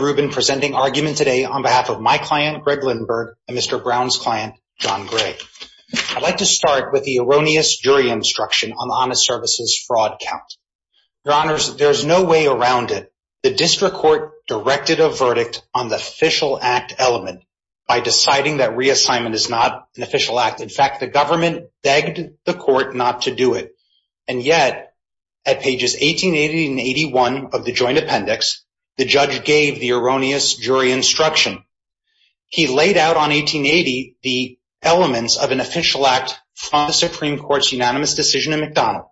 Mr. Rubin presenting argument today on behalf of my client Greg Lindberg and Mr. Brown's client John Gray. I'd like to start with the erroneous jury instruction on the honest services fraud count. Your honors, there's no way around it. The district court directed a verdict on the official act element by deciding that reassignment is not an official act. In fact, the government begged the court not to do it. And yet at pages 1880 and 81 of the joint erroneous jury instruction, he laid out on 1880, the elements of an official act from the Supreme Court's unanimous decision in McDonald.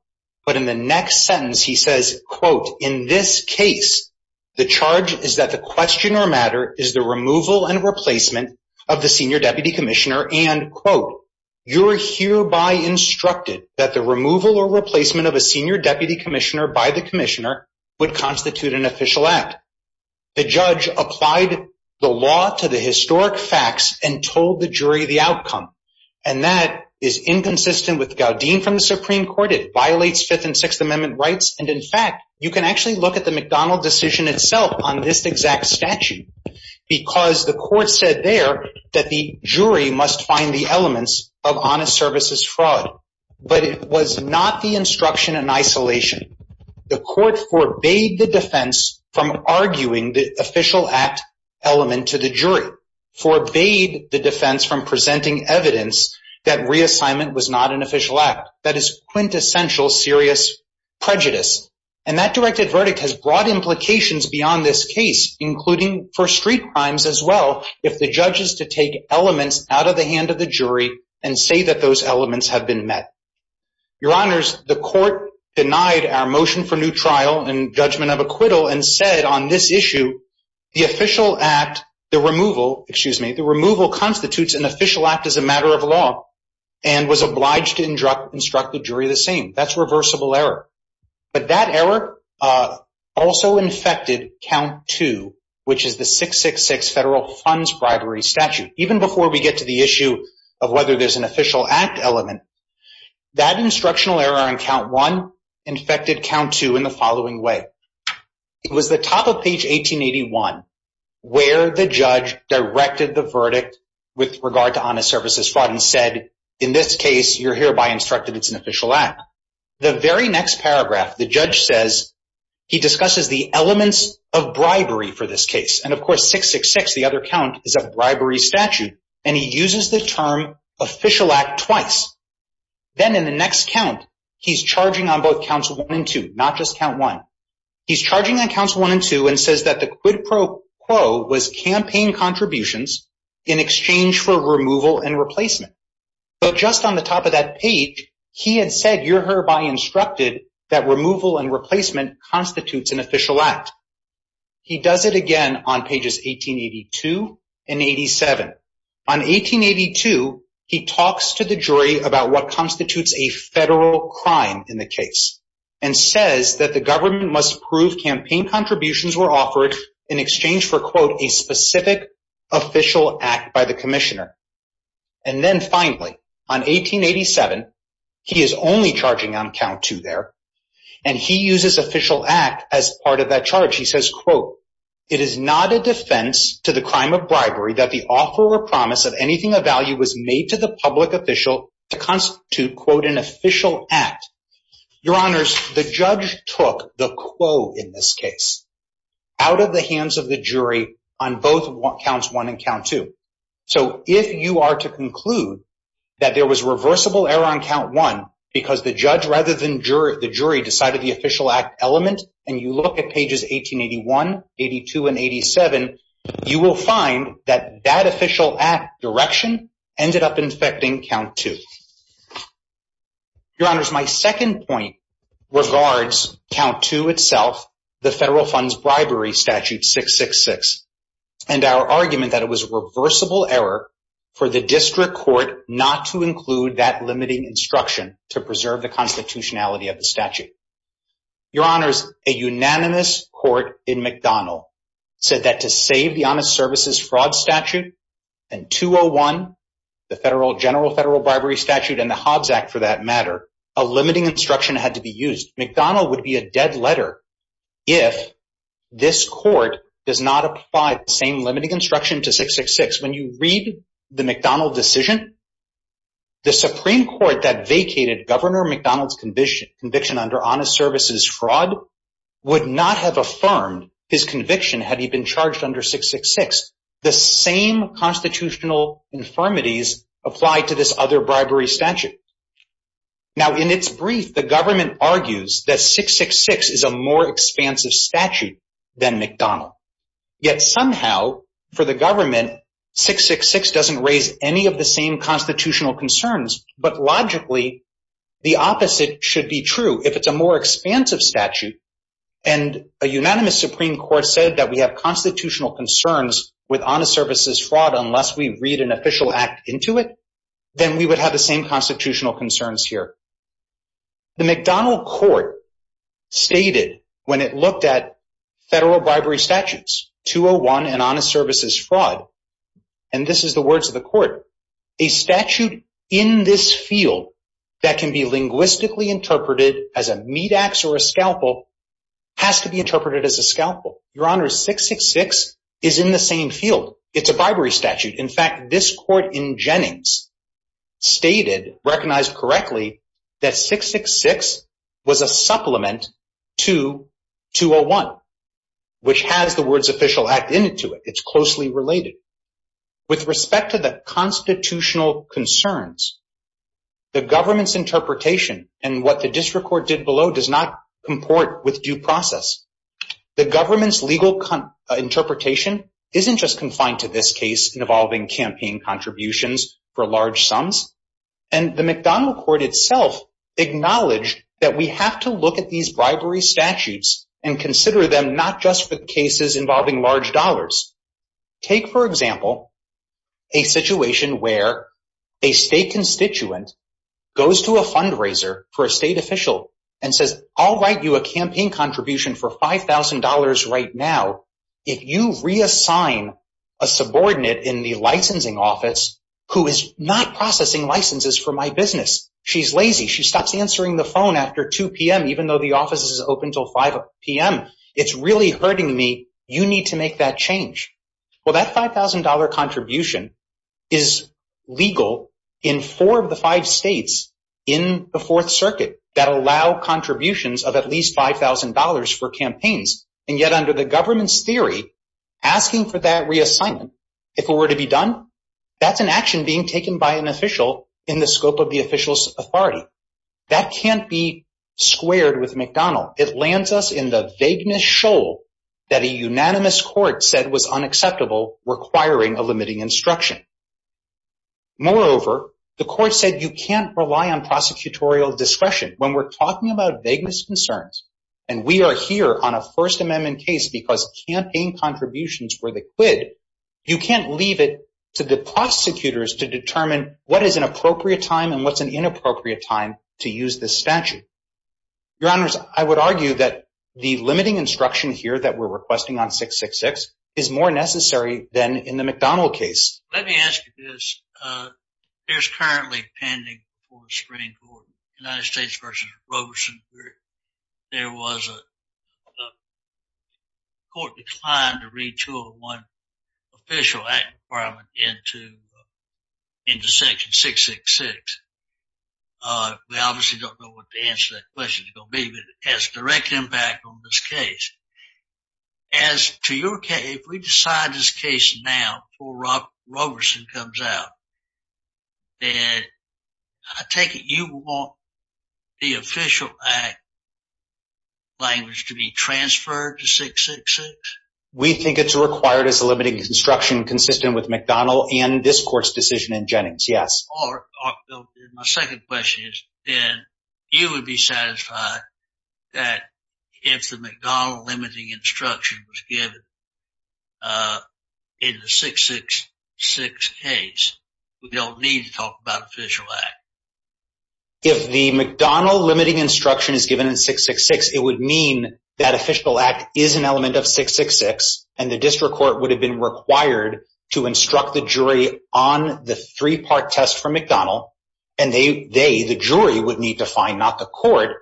But in the next sentence, he says, quote, in this case, the charge is that the question or matter is the removal and replacement of the senior deputy commissioner and quote, you're hereby instructed that the removal or replacement of a senior deputy commissioner by the commissioner would constitute an official act. The judge applied the law to the historic facts and told the jury the outcome. And that is inconsistent with Gaudine from the Supreme Court, it violates Fifth and Sixth Amendment rights. And in fact, you can actually look at the McDonald decision itself on this exact statute. Because the court said there that the jury must find the elements of honest services fraud, but it was not the instruction in isolation. The court forbade the defense from arguing the official act element to the jury, forbade the defense from presenting evidence that reassignment was not an official act. That is quintessential serious prejudice. And that directed verdict has broad implications beyond this case, including for street crimes as well. If the judge is to take elements out of the hand of the jury and say that those elements have been met. Your honors, the court denied our motion for new trial and judgment of acquittal and said on this issue the official act, the removal, excuse me, the removal constitutes an official act as a matter of law and was obliged to instruct the jury the same. That's reversible error. But that error also infected count two, which is the 666 federal funds bribery statute. Even before we get to the issue of whether there's an official act element, that instructional error in count one infected count two in the following way. It was the top of page 1881 where the judge directed the verdict with regard to honest services fraud and said, in this case, you're hereby instructed it's an official act. The very next paragraph, the judge says he discusses the elements of bribery for this case. And of course, 666, the other count is a bribery statute. And he uses the term official act twice. Then in the next count, he's charging on both counts one and two, not just count one. He's charging on counts one and two and says that the quid pro quo was campaign contributions in exchange for removal and replacement. But just on the top of that page, he had said, you're hereby instructed that removal and replacement constitutes an official act. He does it again on pages 1882 and 87. On 1882, he talks to the jury about what constitutes a federal crime in the case and says that the government must prove campaign contributions were offered in exchange for quote, a specific official act by the commissioner. And then finally on 1887, he is only charging on count two there and he uses official act as part of that charge. He says, quote, it is not a defense to the crime of bribery that the offer or promise of anything of value was made to the public official to constitute quote an official act. Your honors, the judge took the quo in this case out of the hands of the jury on both counts one and count two. So if you are to conclude that there was reversible error on count one, because the judge rather than jury, the jury decided the official act element and you look at pages 1881, 82 and 87, you will find that that official act direction ended up infecting count two. Your honors, my second point regards count two itself, the federal funds bribery statute 666 and our argument that it was reversible error for the district court not to include that limiting instruction to preserve the constitutionality of the statute. Your honors, a unanimous court in McDonnell said that to save the honest services fraud statute and 201, the federal general federal bribery statute and the Hobbs Act for that matter, a limiting instruction had to be used. McDonnell would be a dead letter if this court does not apply the same limiting instruction to 666. When you read McDonnell decision, the Supreme Court that vacated Governor McDonnell's conviction under honest services fraud would not have affirmed his conviction had he been charged under 666. The same constitutional infirmities apply to this other bribery statute. Now in its brief the government argues that 666 is a more expansive statute than McDonnell. Yet somehow for the government, 666 doesn't raise any of the same constitutional concerns, but logically the opposite should be true. If it's a more expansive statute and a unanimous Supreme Court said that we have constitutional concerns with honest services fraud unless we read an official act into it, then we would have the same constitutional concerns here. The McDonnell court stated when it looked at federal bribery statutes 201 and honest services fraud, and this is the words of the court, a statute in this field that can be linguistically interpreted as a meat ax or a scalpel has to be interpreted as a scalpel. Your honor, 666 is in the same field. It's a bribery statute. In fact, this court in 666 was a supplement to 201, which has the words official act into it. It's closely related. With respect to the constitutional concerns, the government's interpretation and what the district court did below does not comport with due process. The government's legal interpretation isn't just confined to this case involving campaign contributions for large sums, and the McDonnell court itself acknowledged that we have to look at these bribery statutes and consider them not just for cases involving large dollars. Take, for example, a situation where a state constituent goes to a fundraiser for a state official and says, I'll write you a campaign contribution for $5,000 right now. If you reassign a subordinate in the business, she's lazy. She stops answering the phone after 2 p.m., even though the office is open until 5 p.m. It's really hurting me. You need to make that change. Well, that $5,000 contribution is legal in four of the five states in the Fourth Circuit that allow contributions of at least $5,000 for campaigns, and yet under the government's theory, asking for that reassignment, if it were to be done, that's an action being taken by an official in the scope of the official's authority. That can't be squared with McDonnell. It lands us in the vagueness shoal that a unanimous court said was unacceptable, requiring a limiting instruction. Moreover, the court said you can't rely on prosecutorial discretion. When we're talking about vagueness concerns and we are here on a First Amendment case because campaign contributions were the quid, you can't leave it to the prosecutors to determine what is an appropriate time and what's an inappropriate time to use this statute. Your Honors, I would argue that the limiting instruction here that we're requesting on 666 is more necessary than in the McDonnell case. Let me ask you this. There's currently a pending Supreme Court, United States v. Robeson, where there was a court decline to read 201 Official Act Requirement into Section 666. We obviously don't know what the answer to that question is going to be, but it has a direct impact on this case. As to your case, if we decide this case now, before Robeson comes out, that I take it you want the Official Act language to be transferred to 666? We think it's required as a limiting instruction consistent with McDonnell and this court's decision in Jennings, yes. My second question is, then you would be satisfied that if the McDonnell limiting instruction was given in the 666 case, we don't need to read the Official Act? If the McDonnell limiting instruction is given in 666, it would mean that Official Act is an element of 666 and the district court would have been required to instruct the jury on the three-part test from McDonnell and they, the jury, would need to find, not the court,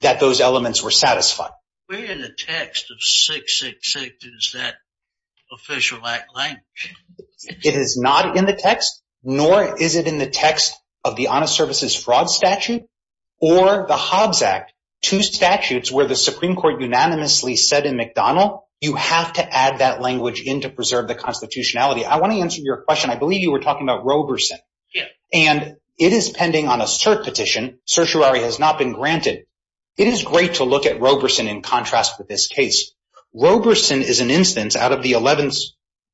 that those elements were satisfied. Where in the text of 666 is that Official Act language? It is not in the text, nor is it in the text of the Honest Services Fraud Statute or the Hobbs Act, two statutes where the Supreme Court unanimously said in McDonnell, you have to add that language in to preserve the constitutionality. I want to answer your question. I believe you were talking about Robeson and it is pending on a cert petition, certiorari has not been granted. It is great to look at Robeson in contrast to this case. Robeson is an instance out of the 11th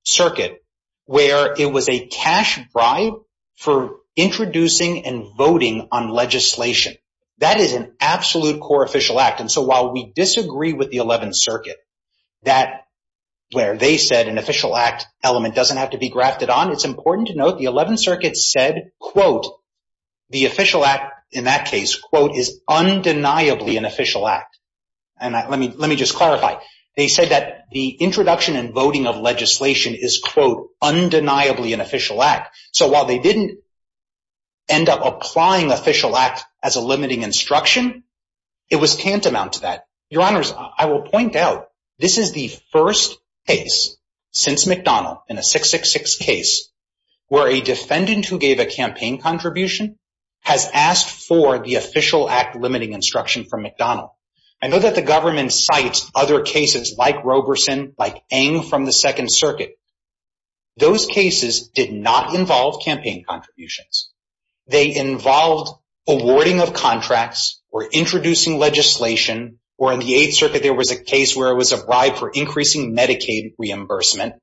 Circuit where it was a cash bribe for introducing and voting on legislation. That is an absolute core Official Act and so while we disagree with the 11th Circuit, where they said an Official Act element doesn't have to be grafted on, it is important to note the 11th Circuit said, quote, the Official Let me just clarify. They said that the introduction and voting of legislation is, quote, undeniably an Official Act. So while they didn't end up applying Official Act as a limiting instruction, it was tantamount to that. Your Honors, I will point out, this is the first case since McDonnell in a 666 case where a defendant who gave a campaign contribution has asked for the Official Act limiting instruction from McDonnell. I know that the government cites other cases like Robeson, like Ng from the 2nd Circuit. Those cases did not involve campaign contributions. They involved awarding of contracts or introducing legislation or in the 8th Circuit there was a case where it was a bribe for increasing Medicaid reimbursement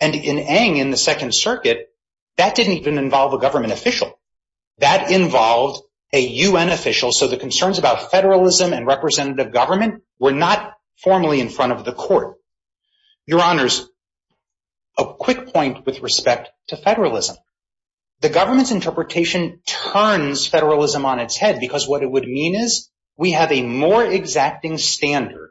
and in Ng in the 2nd Circuit, that didn't even involve a government official. That involved a U.N. official. So the concerns about federalism and representative government were not formally in front of the court. Your Honors, a quick point with respect to federalism. The government's interpretation turns federalism on its head because what it would mean is we have a more exacting standard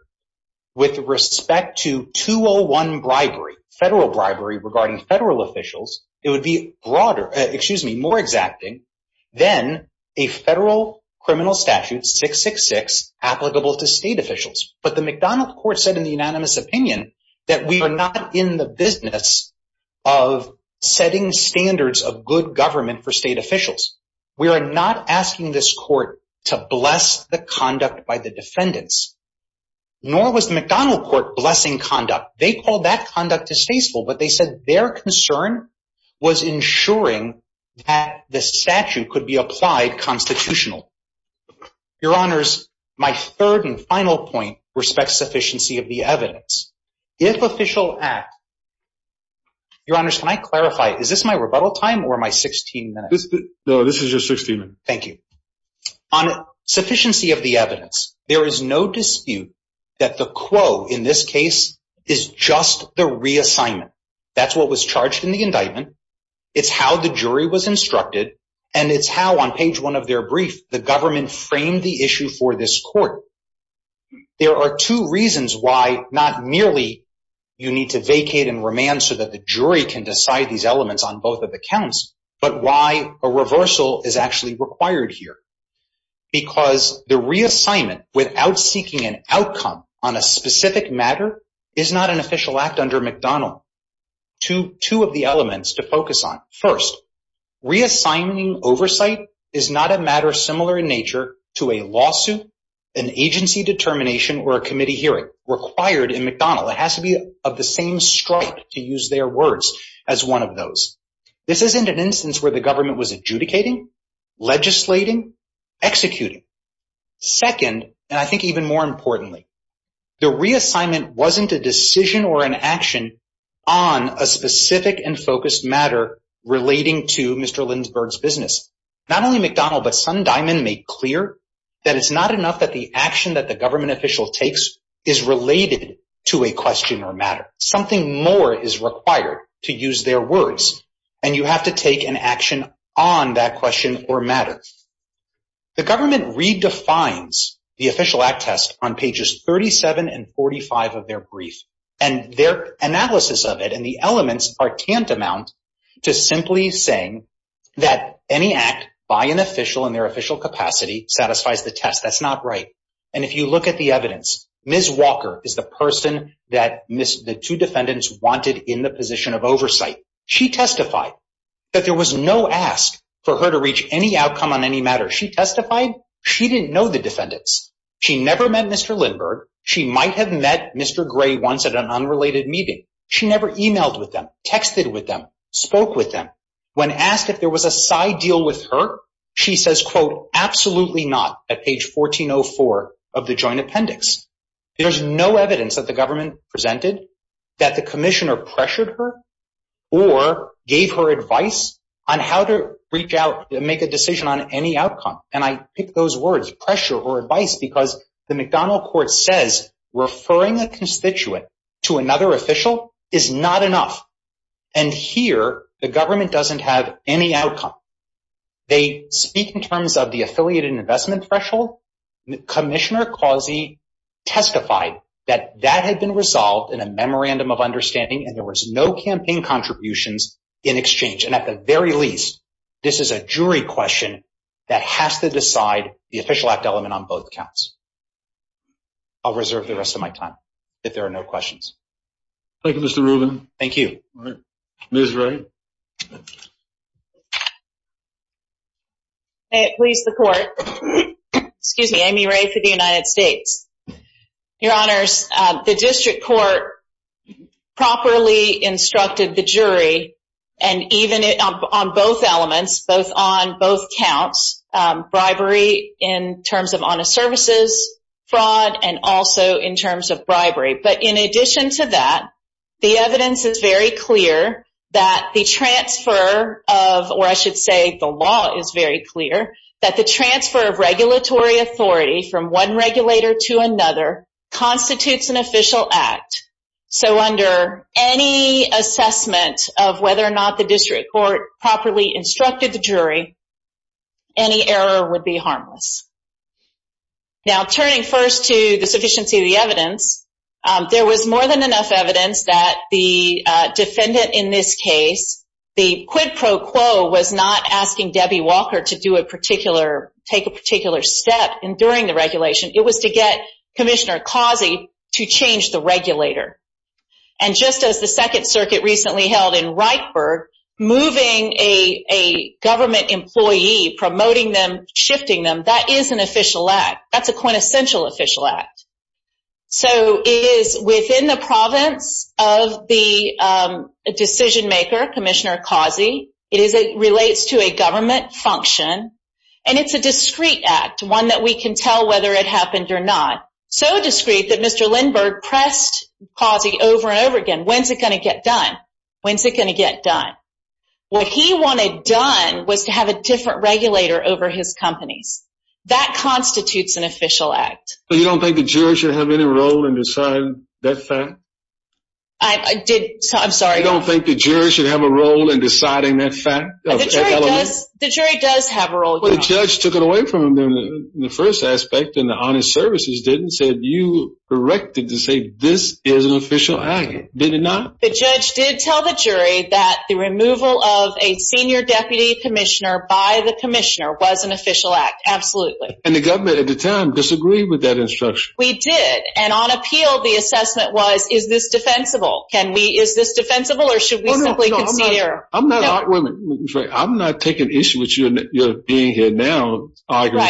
with respect to 201 bribery, federal bribery regarding federal officials. It would be more exacting than a federal criminal statute, 666, applicable to state officials. But the McDonnell court said in the unanimous opinion that we are not in the business of setting standards of good government for state officials. We are not asking this court to bless the conduct by the defendants. Nor was the McDonnell court blessing conduct. They called that conduct distasteful, but they said their concern was ensuring that the statute could be applied constitutional. Your Honors, my third and final point respects sufficiency of the evidence. If official act. Your Honors, can I clarify, is this my rebuttal time or my 16 minutes? No, this is your 16 minutes. Thank you. On sufficiency of the evidence, there is no dispute that the quo in this case is just the reassignment. That's what was charged in the indictment. It's how the jury was instructed and it's how on page one of their brief, the government framed the issue for this court. There are two reasons why not merely you need to vacate and remand so that the jury can decide these elements on without seeking an outcome on a specific matter is not an official act under McDonald to two of the elements to focus on. First reassigning oversight is not a matter similar in nature to a lawsuit, an agency determination, or a committee hearing required in McDonald. It has to be of the same stripe to use their words as one of those. This isn't an instance where the I think even more importantly, the reassignment wasn't a decision or an action on a specific and focused matter relating to Mr. Lindsberg's business. Not only McDonald, but some diamond make clear that it's not enough that the action that the government official takes is related to a question or matter. Something more is required to use their words and you have to an action on that question or matter. The government redefines the official act test on pages 37 and 45 of their brief and their analysis of it and the elements are tantamount to simply saying that any act by an official in their official capacity satisfies the test. That's not right. And if you look at the evidence, Ms. Walker is the person that the two defendants wanted in the position of oversight. She testified that there was no ask for her to reach any outcome on any matter. She testified she didn't know the defendants. She never met Mr. Lindsberg. She might have met Mr. Gray once at an unrelated meeting. She never emailed with them, texted with them, spoke with them. When asked if there was a side deal with her, she says, quote, absolutely not at page 1404 of the joint appendix. There's no evidence that the government presented that commissioner pressured her or gave her advice on how to reach out and make a decision on any outcome. And I pick those words, pressure or advice, because the McDonnell court says referring a constituent to another official is not enough. And here, the government doesn't have any outcome. They speak in terms of the affiliated investment threshold. Commissioner Causey testified that that had been resolved in a memorandum of understanding, and there was no campaign contributions in exchange. And at the very least, this is a jury question that has to decide the official act element on both counts. I'll reserve the rest of my time if there are no questions. Thank you, Mr. Rubin. Thank you. Ms. Ray. Please, the court. Excuse me, Amy Ray for the United States. Your honors, the district court properly instructed the jury, and even on both elements, both on both counts, bribery in terms of honest services, fraud, and also in terms of bribery. But in addition to that, the evidence is very clear that the transfer of, or I should say, the law is very clear, that the transfer of regulatory authority from one regulator to another constitutes an official act. So under any assessment of whether or not the district court properly instructed the jury, any error would be harmless. Now, turning first to the sufficiency of the evidence, there was more than enough evidence that the defendant in this case, the quid pro quo was not asking Debbie Walker to do a particular, take a particular step in during the regulation. It was to get Commissioner Causey to change the regulator. And just as the Second Circuit recently held in Wrightburg, moving a government employee, promoting them, shifting them, that is an official act. That's a quintessential official act. So it is within the province of the decision maker, Commissioner Causey, it relates to a government function, and it's a discreet act, one that we can tell whether it happened or not. So discreet that Mr. Lindbergh pressed Causey over and over again, when's it going to get done? When's it going to get done? What he wanted done was to have a different regulator over his and decide that fact. I did. I'm sorry. I don't think the jury should have a role in deciding that fact. The jury does have a role. The judge took it away from him in the first aspect and the honest services didn't said you erected to say this is an official act. Did it not? The judge did tell the jury that the removal of a senior deputy commissioner by the commissioner was an official act. Absolutely. And the government at the time disagreed with that We did. And on appeal, the assessment was, is this defensible? Can we, is this defensible or should we simply concede error? I'm not taking issue with you being here now,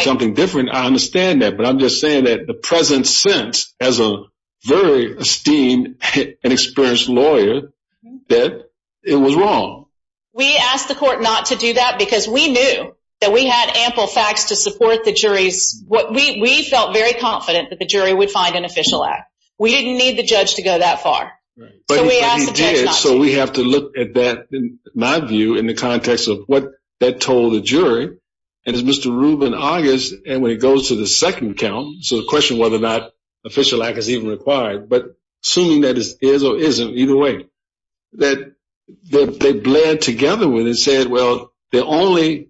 something different. I understand that. But I'm just saying that the present sense as a very esteemed and experienced lawyer, that it was wrong. We asked the court not to do that because we knew that we had ample facts to support the jury's what we felt very confident that the jury would find an official act. We didn't need the judge to go that far. So we have to look at that in my view, in the context of what that told the jury and it's Mr. Rubin August. And when it goes to the second count, so the question, whether or not official act is even required, but assuming that it is or isn't either way that they blend together and said, well, the only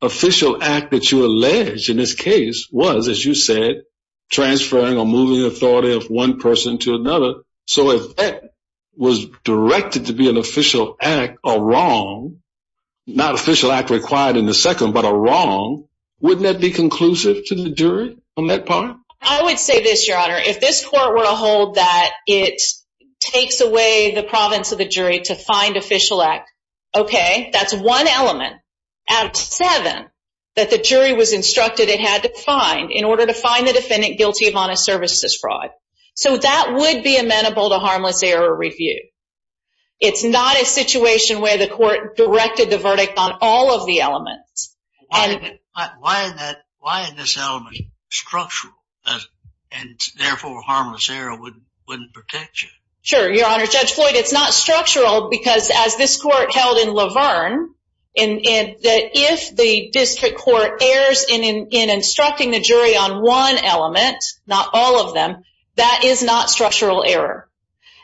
official act that you alleged in this case was, as you said, transferring or moving authority of one person to another. So if that was directed to be an official act or wrong, not official act required in the second, but a wrong, wouldn't that be conclusive to the jury on that part? I would say this, your honor, if this court were to hold that it takes away the province of the jury to find official act, okay, that's one element out of seven that the jury was instructed it had to find in order to find the defendant guilty of honest services fraud. So that would be amenable to harmless error review. It's not a situation where the court directed the verdict on all of the elements. Why isn't this element structural and therefore harmless error wouldn't protect you? Sure, your honor. Judge Floyd, it's not structural because as this court held in Laverne, if the district court errs in instructing the jury on one element, not all of them, that is not structural error.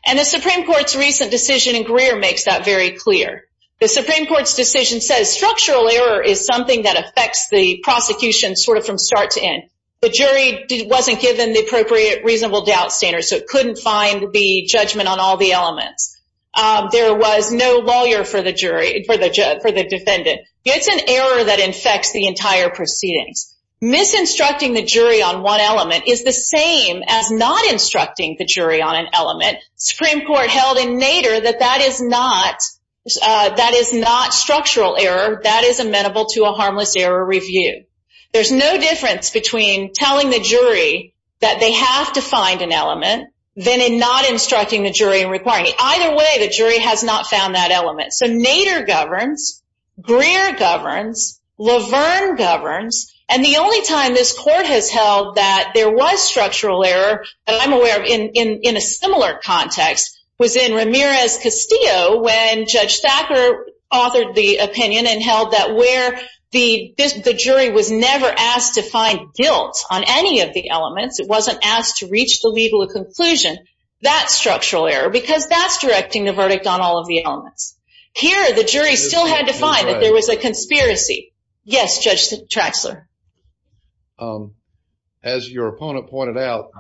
And the Supreme Court's recent decision in Greer makes that very clear. The Supreme Court's decision says structural error is something that affects the prosecution sort of from start to end. The jury wasn't given the appropriate reasonable doubt standard, so it couldn't find the judgment on all the elements. There was no lawyer for the defendant. It's an error that infects the entire proceedings. Misinstructing the jury on one element is the same as not instructing the jury on an element. Supreme Court held in Nader that that is not structural error. That is amenable to a element than in not instructing the jury and requiring it. Either way, the jury has not found that element. So Nader governs. Greer governs. Laverne governs. And the only time this court has held that there was structural error that I'm aware of in a similar context was in Ramirez-Castillo when Judge Thacker authored the opinion and held that where the jury was never asked to find the legal conclusion, that's structural error because that's directing the verdict on all of the elements. Here, the jury still had to find that there was a conspiracy. Yes, Judge Traxler. As your opponent pointed out,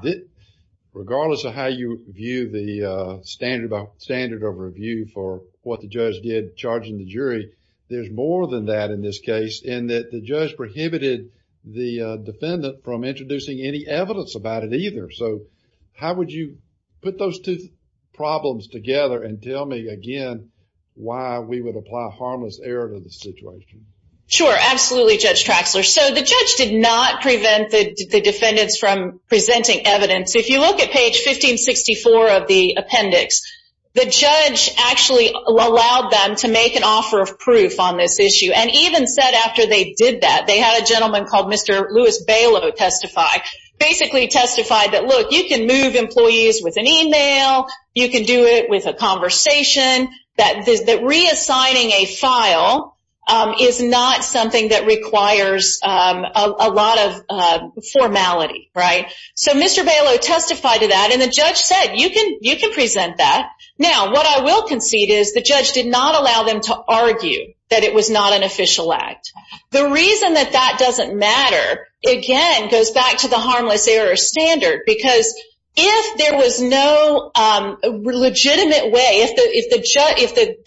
regardless of how you view the standard of review for what the judge did charging the jury, there's more than that in this case in that the judge how would you put those two problems together and tell me again why we would apply harmless error to the situation? Sure. Absolutely, Judge Traxler. So the judge did not prevent the defendants from presenting evidence. If you look at page 1564 of the appendix, the judge actually allowed them to make an offer of proof on this issue. And even said after they did that, they had a gentleman called Mr. Louis Bailo testify, basically testified that, look, you can move employees with an email, you can do it with a conversation, that reassigning a file is not something that requires a lot of formality, right? So Mr. Bailo testified to that and the judge said you can present that. Now, what I will concede is the judge did not allow them to argue that it was not an again, goes back to the harmless error standard, because if there was no legitimate way, if the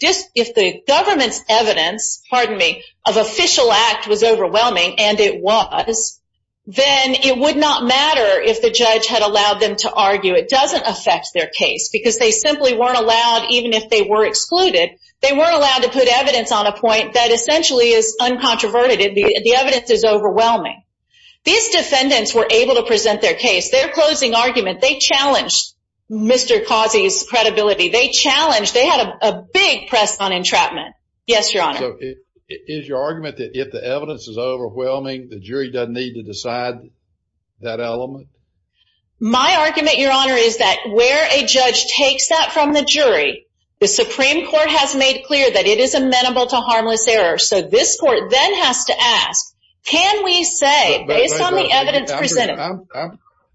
judge, if the government's evidence, pardon me, of official act was overwhelming, and it was, then it would not matter if the judge had allowed them to argue. It doesn't affect their case because they simply weren't allowed, even if they were excluded, they weren't allowed to put evidence on a point that essentially is uncontroverted, the evidence is overwhelming. These defendants were able to present their case, their closing argument, they challenged Mr. Causey's credibility, they challenged, they had a big press on entrapment. Yes, your honor. Is your argument that if the evidence is overwhelming, the jury doesn't need to decide that element? My argument, your honor, is that where a judge takes that from the jury, the Supreme Court has made clear that it is amenable to harmless error, so this court then has to ask, can we say, based on the evidence presented.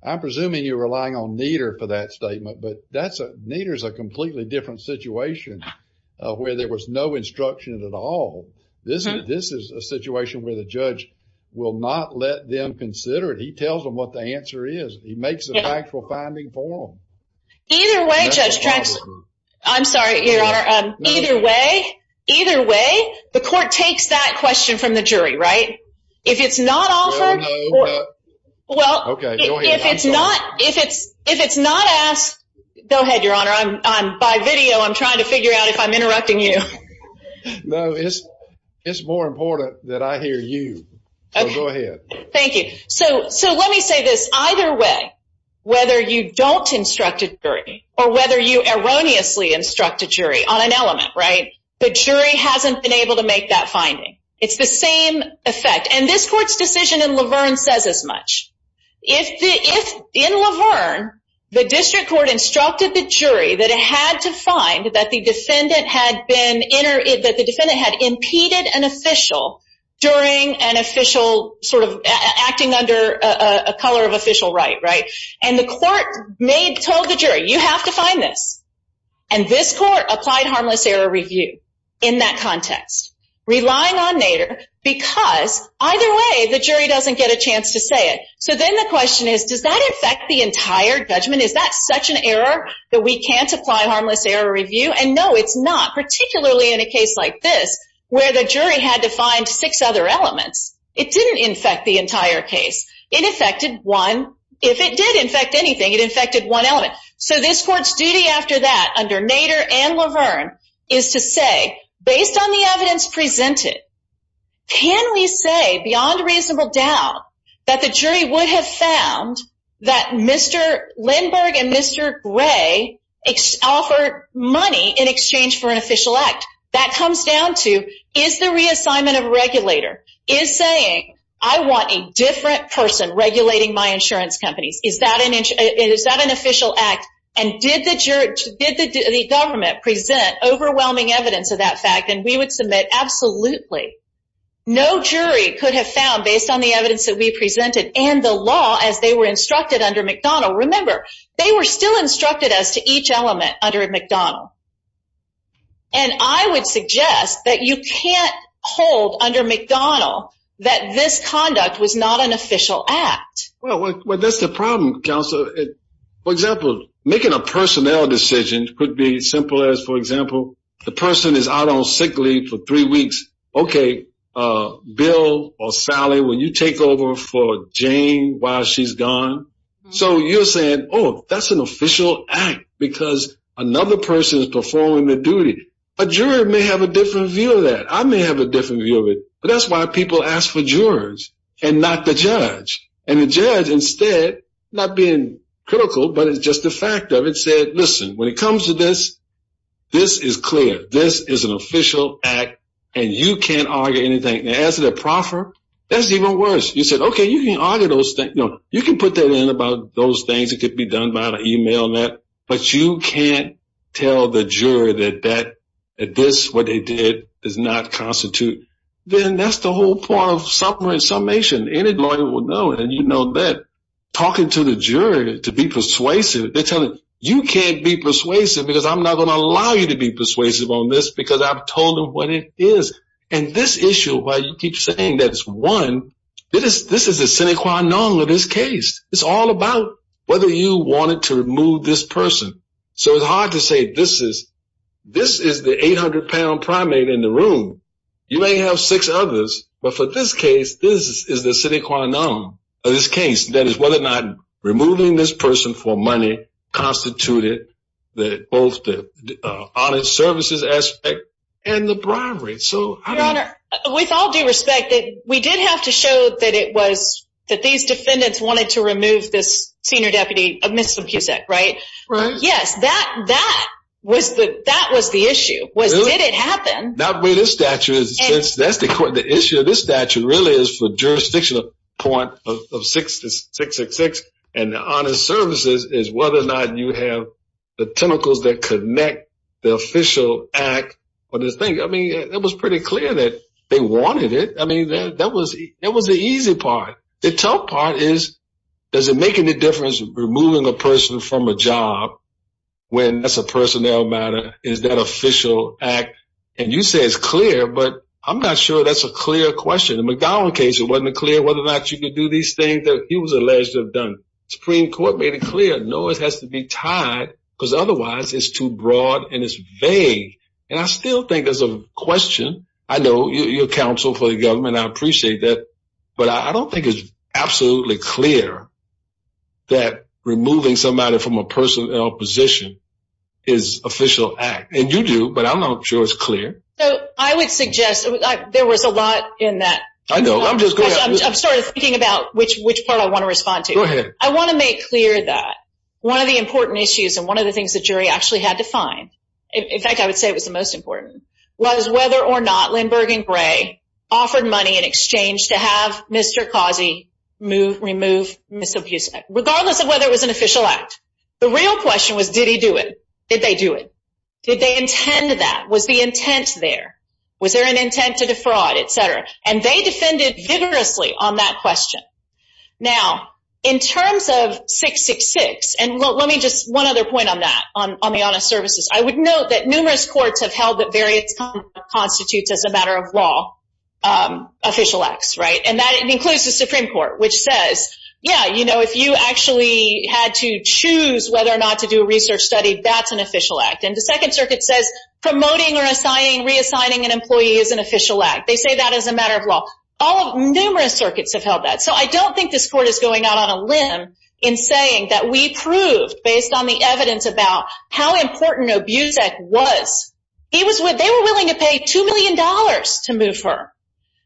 I'm presuming you're relying on Nieder for that statement, but that's, Nieder's a completely different situation where there was no instruction at all. This is a situation where the judge will not let them consider it. He tells them what the answer is. He makes a factual finding for them. Either way, I'm sorry, your honor, either way, the court takes that question from the jury, right? If it's not offered, if it's not asked, go ahead, your honor, by video, I'm trying to figure out if I'm interrupting you. No, it's more important that I hear you. Go ahead. Thank you. So let me say this, either way, whether you don't instruct a jury or whether you erroneously instruct a jury on an element, right, the jury hasn't been able to make that finding. It's the same effect, and this court's decision in Laverne says as much. In Laverne, the district court instructed the jury that it had to find that the defendant had been, that the defendant had impeded an official during an official sort of, acting under a color of official right, right? And the court made, told the jury, you have to find this. And this court applied harmless error review in that context, relying on Nader, because either way, the jury doesn't get a chance to say it. So then the question is, does that affect the entire judgment? Is that such an error that we can't apply harmless error review? And no, it's not, particularly in a case like this, where the jury had to find six other elements. It didn't infect the entire case. It infected one. If it did infect anything, it infected one element. So this court's duty after that, under Nader and Laverne, is to say, based on the evidence presented, can we say, beyond reasonable doubt, that the jury would have found that Mr. Lindbergh and Mr. Gray offered money in exchange for an official act? That comes down to, is the reassignment of a regulator, is saying, I want a different person regulating my insurance companies, is that an official act? And did the government present overwhelming evidence of that fact, and we would submit, absolutely. No jury could have found, based on the evidence that we presented, and the law, as they were instructed under McDonald. Remember, they were still instructed as to each element under McDonald. And I would suggest that you can't hold under McDonald that this conduct was not an official act. Well, that's the problem, counsel. For example, making a personnel decision could be simple as, for example, the person is out on sick leave for three weeks. Okay, Bill or Sally, will you take over for Jane while she's gone? So you're saying, oh, that's an official act because another person is performing their duty. A juror may have a different view of that. I may have a different view of it. But that's why people ask for jurors and not the judge. And the judge instead, not being critical, but it's just a fact of it, said, listen, when it comes to this, this is clear. This is an official act, and you can't argue anything. And as a proffer, that's even worse. You said, okay, you can argue those things, you can put that in about those things that could be done via email and that, but you can't tell the juror that this, what they did, does not constitute. Then that's the whole point of supplement summation. Any lawyer will know it, and you know that. Talking to the juror to be persuasive, they're telling, you can't be persuasive because I'm not going to allow you to be persuasive on this because I've told them what it is. And this issue, why you keep saying that it's one, this is the sine qua non of this case. It's all about whether you wanted to remove this person. So it's hard to say this is the 800-pound primate in the room. You may have six others, but for this case, this is the sine qua non of this case. That is whether or not removing this person for money constituted both the honest services aspect and the bribery. Your Honor, with all due respect, we did have to show that these defendants wanted to remove this senior deputy, Mr. Pusek, right? Yes, that was the issue. Did it happen? Not with this statute. The issue of this statute really is for jurisdictional point of 666 and the honest services is whether or not you have the tentacles that connect the official act or this thing. I mean, it was pretty clear that they wanted it. I mean, that was the easy part. The tough part is, does it make any difference removing a person from a job when that's a personnel matter? Is that official act? And you say it's clear, but I'm not sure that's a clear question. The McGowan case, it wasn't clear whether or not you could do these things that he was alleged to have done. Supreme Court made it clear. No, it has to be tied because otherwise it's too broad and it's vague. And I still think there's a question. I know you're counsel for the government. I appreciate that, but I don't think it's absolutely clear that removing somebody from a personnel position is official act. And you do, but I'm not sure it's clear. I would suggest there was a lot in that. I know. I'm just going to start thinking about which part I want to respond to. Go ahead. I want to make clear that one of the important issues and one of the things the jury actually had to find, in fact I would say it was the most important, was whether or not Lindbergh and Gray offered money in exchange to have Mr. Causey remove Ms. Obusek, regardless of whether it was an official act. The real question was, did he do it? Did they do it? Did they intend that? Was the intent there? Was there an intent to defraud, et cetera? And they defended vigorously on that question. Now, in terms of 666, and let me just, one other point on that, on the honest services. I would note that numerous courts have held that variance constitutes as a matter of law, official acts, right? And that includes the Supreme Court, which says, yeah, you know, if you actually had to choose whether or not to do a research study, that's an official act. And the Second Circuit says promoting or assigning, reassigning an official act. They say that is a matter of law. All of, numerous circuits have held that. So I don't think this court is going out on a limb in saying that we proved, based on the evidence about how important Obusek was. He was, they were willing to pay two million dollars to move her.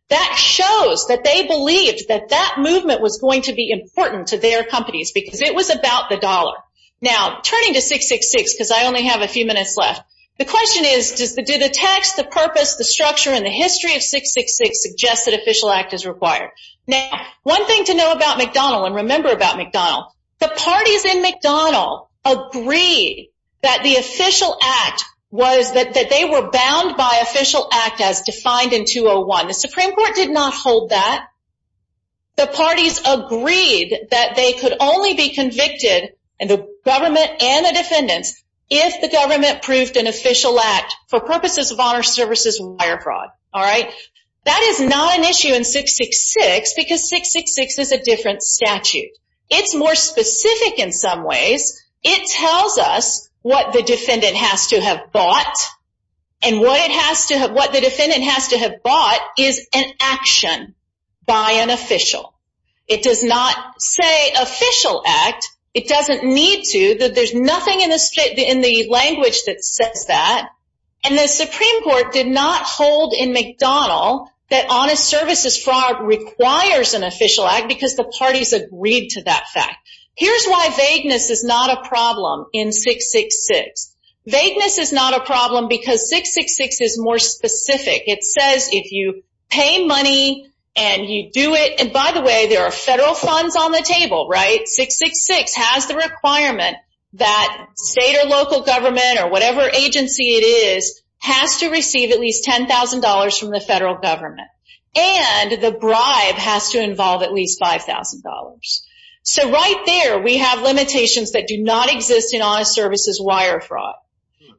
That shows that they believed that that movement was going to be important to their companies, because it was about the dollar. Now, turning to 666, because I only have a few minutes left, the question is, do the text, the purpose, the structure, and the history of 666 suggest that official act is required? Now, one thing to know about McDonnell, and remember about McDonnell, the parties in McDonnell agreed that the official act was, that they were bound by official act as defined in 201. The Supreme Court did not hold that. The parties agreed that they could only be convicted, and the government and the defendants, if the government proved an official act for purposes of honor services wire fraud. All right, that is not an issue in 666, because 666 is a different statute. It's more specific in some ways. It tells us what the defendant has to have bought, and what it has to have, what the defendant has to have bought is an action by an official. It does not say official act. It doesn't need to. There's nothing in the language that says that, and the Supreme Court did not hold in McDonnell that honest services fraud requires an official act, because the parties agreed to that fact. Here's why vagueness is not a problem in 666. Vagueness is not a problem, because 666 is more specific. It says if you pay money, and you do it, and by the way, there are federal funds on the table, right? 666 has the requirement that state or local government, or whatever agency it is, has to receive at least $10,000 from the federal government, and the bribe has to involve at least $5,000. So right there, we have limitations that do not exist in honest services wire fraud,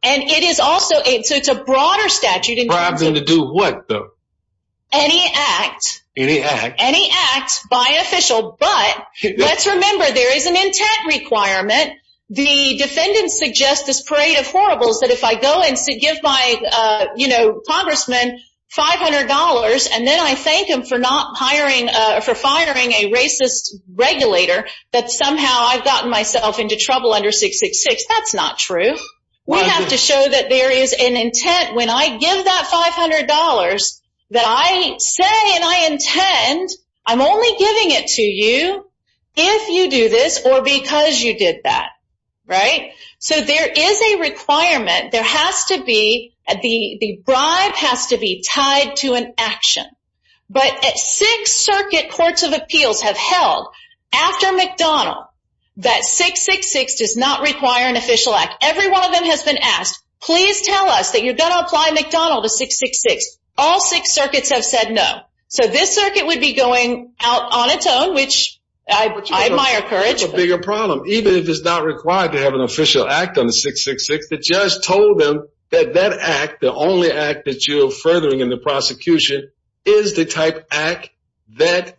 and it is also, so it's a broader statute. Bribes them to do what, though? Any act. Any act. Any act by official, but let's remember there is an intent requirement. The defendant suggests this parade of horribles, that if I go and give my, you know, congressman $500, and then I thank him for not hiring, for firing a racist regulator, that somehow I've gotten myself into trouble under 666. That's not true. We have to show that there is an intent. When I give that $500, that I say, and I intend, I'm only giving it to you if you do this, or because you did that, right? So there is a requirement. There has to be, the bribe has to be tied to an action, but at Sixth Circuit Courts of Appeals have held, after McDonnell, that 666 does not require an official act. Every one of them has been asked, please tell us that you're going to apply McDonnell to 666. All six circuits have said no. So this circuit would be going out on its own, which I admire courage. A bigger problem, even if it's not required to have an official act on the 666, the judge told them that that act, the only act that you're furthering in the prosecution, is the type act that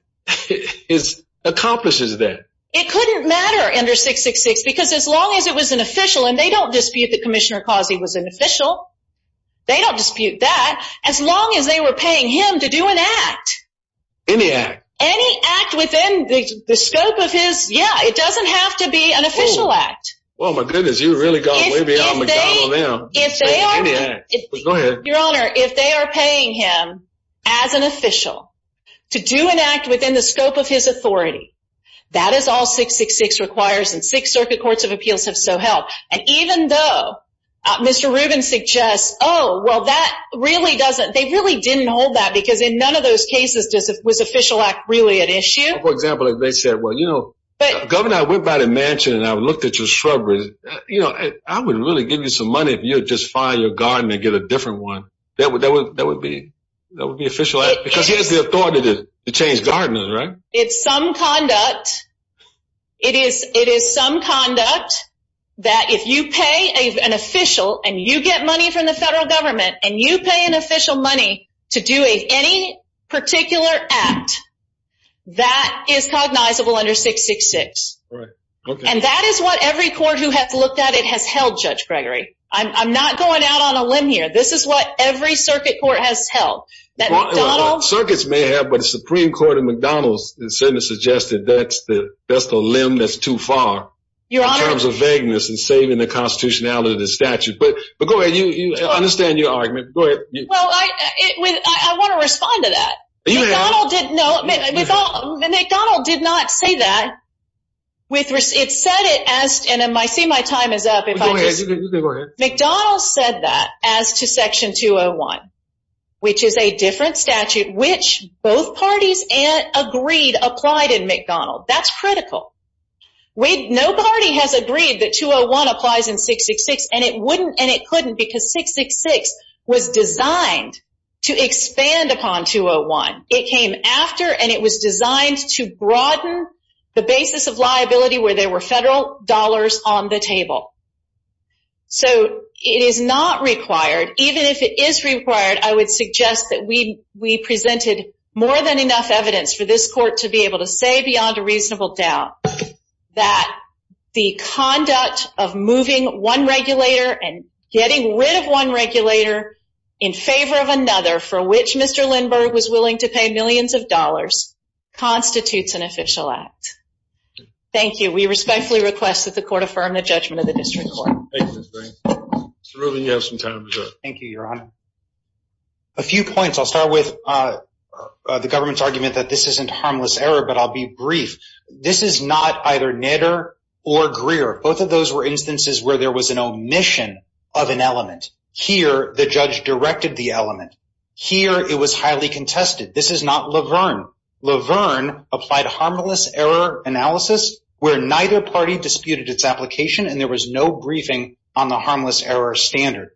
accomplishes that. It couldn't matter under 666, because as long as it was an official, and they don't dispute that Commissioner Causey was an official, they don't dispute that, as long as they were paying him to do an act. Any act. Any act within the scope of his, yeah, it doesn't have to be an official. Your Honor, if they are paying him as an official to do an act within the scope of his authority, that is all 666 requires, and Sixth Circuit Courts of Appeals have so held. And even though Mr. Rubin suggests, oh, well, that really doesn't, they really didn't hold that, because in none of those cases was official act really an issue. For example, if they said, well, you know, Governor, I went by the mansion and I looked at your shrubbery, you know, I would really give you some money if you would just fire your garden and get a different one. That would be official act, because he has the authority to change gardeners, right? It's some conduct, it is some conduct that if you pay an official and you get money from the federal government and you pay an official money to do any particular act, that is cognizable under 666. And that is what every I'm not going out on a limb here. This is what every circuit court has held. Circuits may have, but the Supreme Court of McDonald's has certainly suggested that's the limb that's too far in terms of vagueness and saving the constitutionality of the statute. But go ahead, I understand your argument. Go ahead. Well, I want to respond to that. McDonald's did not say that. It said it as, and I see my time is up. McDonald's said that as to section 201, which is a different statute, which both parties applied in McDonald's. That's critical. No party has agreed that 201 applies in 666 and it wouldn't because 666 was designed to expand upon 201. It came after and it was designed to broaden the basis of liability where there were federal dollars on the table. So it is not required. Even if it is required, I would suggest that we presented more than enough evidence for this court to be able to say beyond a reasonable doubt that the conduct of moving one regulator and getting rid of one regulator in favor of another for which Mr. Lindbergh was willing to pay millions of dollars constitutes an official act. Thank you. We respectfully request that the court affirm the judgment of the district court. Mr. Rubin, you have some time to reserve. Thank you, Your Honor. A few points. I'll start with the government's argument that this isn't harmless error, but I'll be brief. This is not either Nader or Greer. Both of those were instances where there was an omission of an element. Here, the judge directed the element. Here, it was highly contested. This is not Laverne. Laverne applied harmless error analysis where neither party disputed its application and there was no briefing on the harmless error standard.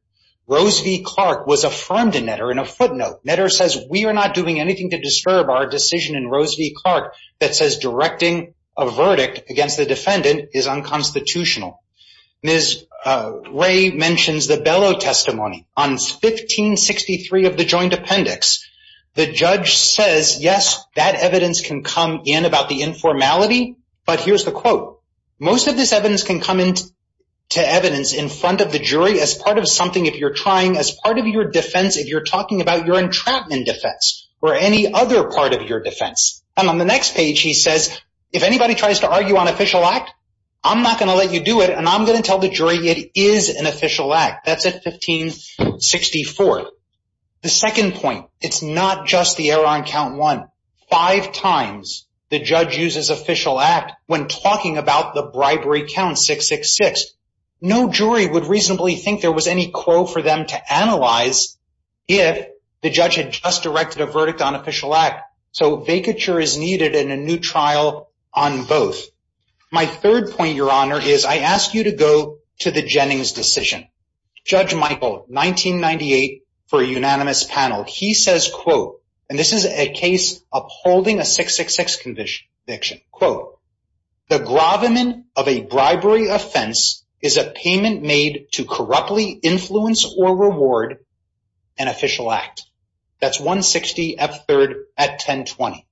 Rose v. Clark was affirmed in Nader in a footnote. Nader says we are not doing anything to disturb our decision in Rose v. Clark that says directing a verdict against the defendant is unconstitutional. Ms. Ray mentions the Bellow testimony on 1563 of the joint appendix. The judge says, yes, that evidence can come in about the informality, but here's the quote. Most of this evidence can come into evidence in front of the jury as part of something if you're trying as part of your defense if you're talking about your entrapment defense or any other part of your defense. And on the next page, he says, if anybody tries to argue on official act, I'm not going to let you do it and I'm going to tell the jury it is an official act. That's at 1564. The second point, it's not just the error on count one. Five times the judge uses official act when talking about the bribery count 666. No jury would reasonably think there was any quo for them to analyze if the judge had just directed a verdict on official act. So vacature is needed in a new trial on both. My third point, your honor, is I ask you to go to the Jennings decision. Judge Michael, 1998 for a unanimous panel. He says, quote, and this is a case upholding a 666 conviction, quote, the gravamen of a bribery offense is a payment made to corruptly influence or reward an official act. That's 160 F third at 1020.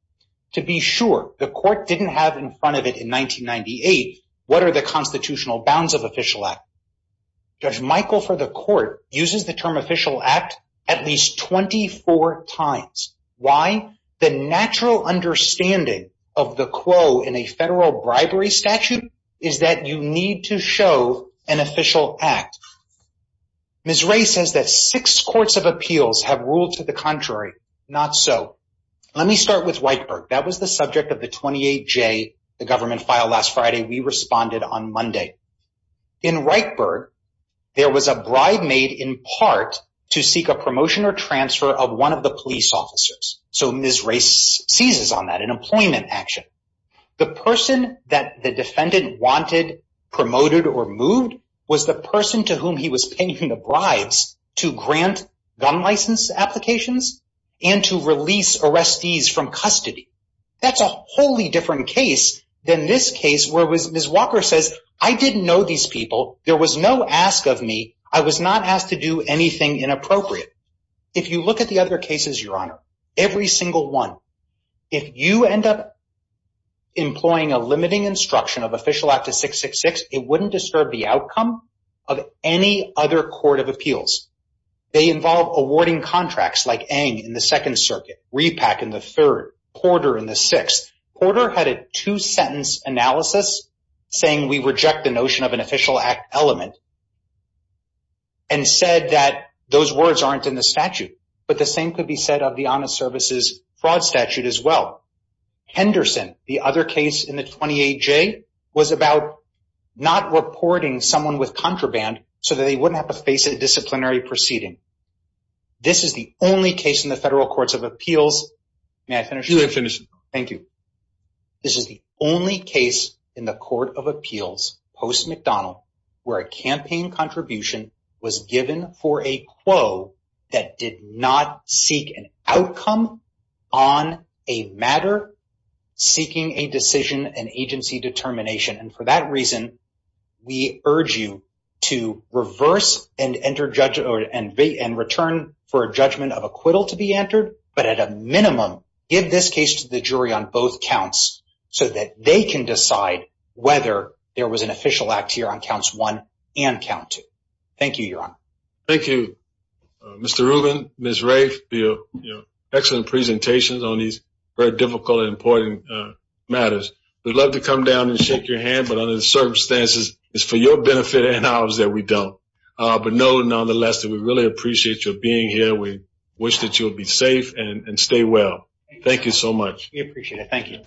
To be sure the court didn't have in front of it in 1998, what are the constitutional bounds of official act? Judge Michael for the court uses the term official act at least 24 times. Why? The natural understanding of the quo in a federal bribery statute is that you need to show an official act. Ms. Ray says that six courts of appeals have ruled to the contrary. Not so. Let me start with Whiteberg. That was the subject of the 28 J, the government file last Friday. We responded on Monday in right bird. There was a bribe made in part to seek a promotion or transfer of one of the police officers. So Ms. Race seizes on that employment action. The person that the defendant wanted promoted or moved was the person to whom he was paying the bribes to grant gun license applications and to release arrestees from custody. That's a wholly different case than this case where it was. Ms. Walker says, I didn't know these people. There was no ask of me. I was not asked to do anything inappropriate. If you look at the other cases, your honor, every single one, if you end up employing a limiting instruction of official act of 666, it wouldn't disturb the outcome of any other court of appeals. They involve awarding contracts like Aang in the second circuit, Repack in the third, Porter in the sixth. Porter had a two sentence analysis saying we reject the notion of an official act element and said that those words aren't in the statute, but the same could be said of the honest services fraud statute as well. Henderson, the other case in the 28J was about not reporting someone with contraband so that they wouldn't have to face a disciplinary proceeding. This is the only case in the federal courts of appeals. May I finish? You may finish. Thank you. This is the only case in the 28J where a campaign contribution was given for a quo that did not seek an outcome on a matter seeking a decision and agency determination. For that reason, we urge you to reverse and return for a judgment of acquittal to be entered, but at a minimum, give this case to the jury on both and count two. Thank you, Your Honor. Thank you, Mr. Rubin, Ms. Rafe for your excellent presentations on these very difficult and important matters. We'd love to come down and shake your hand, but under the circumstances, it's for your benefit and ours that we don't. But nonetheless, we really appreciate you being here. We wish that you'll be safe and stay well. Thank you so much. We appreciate it. Thank you.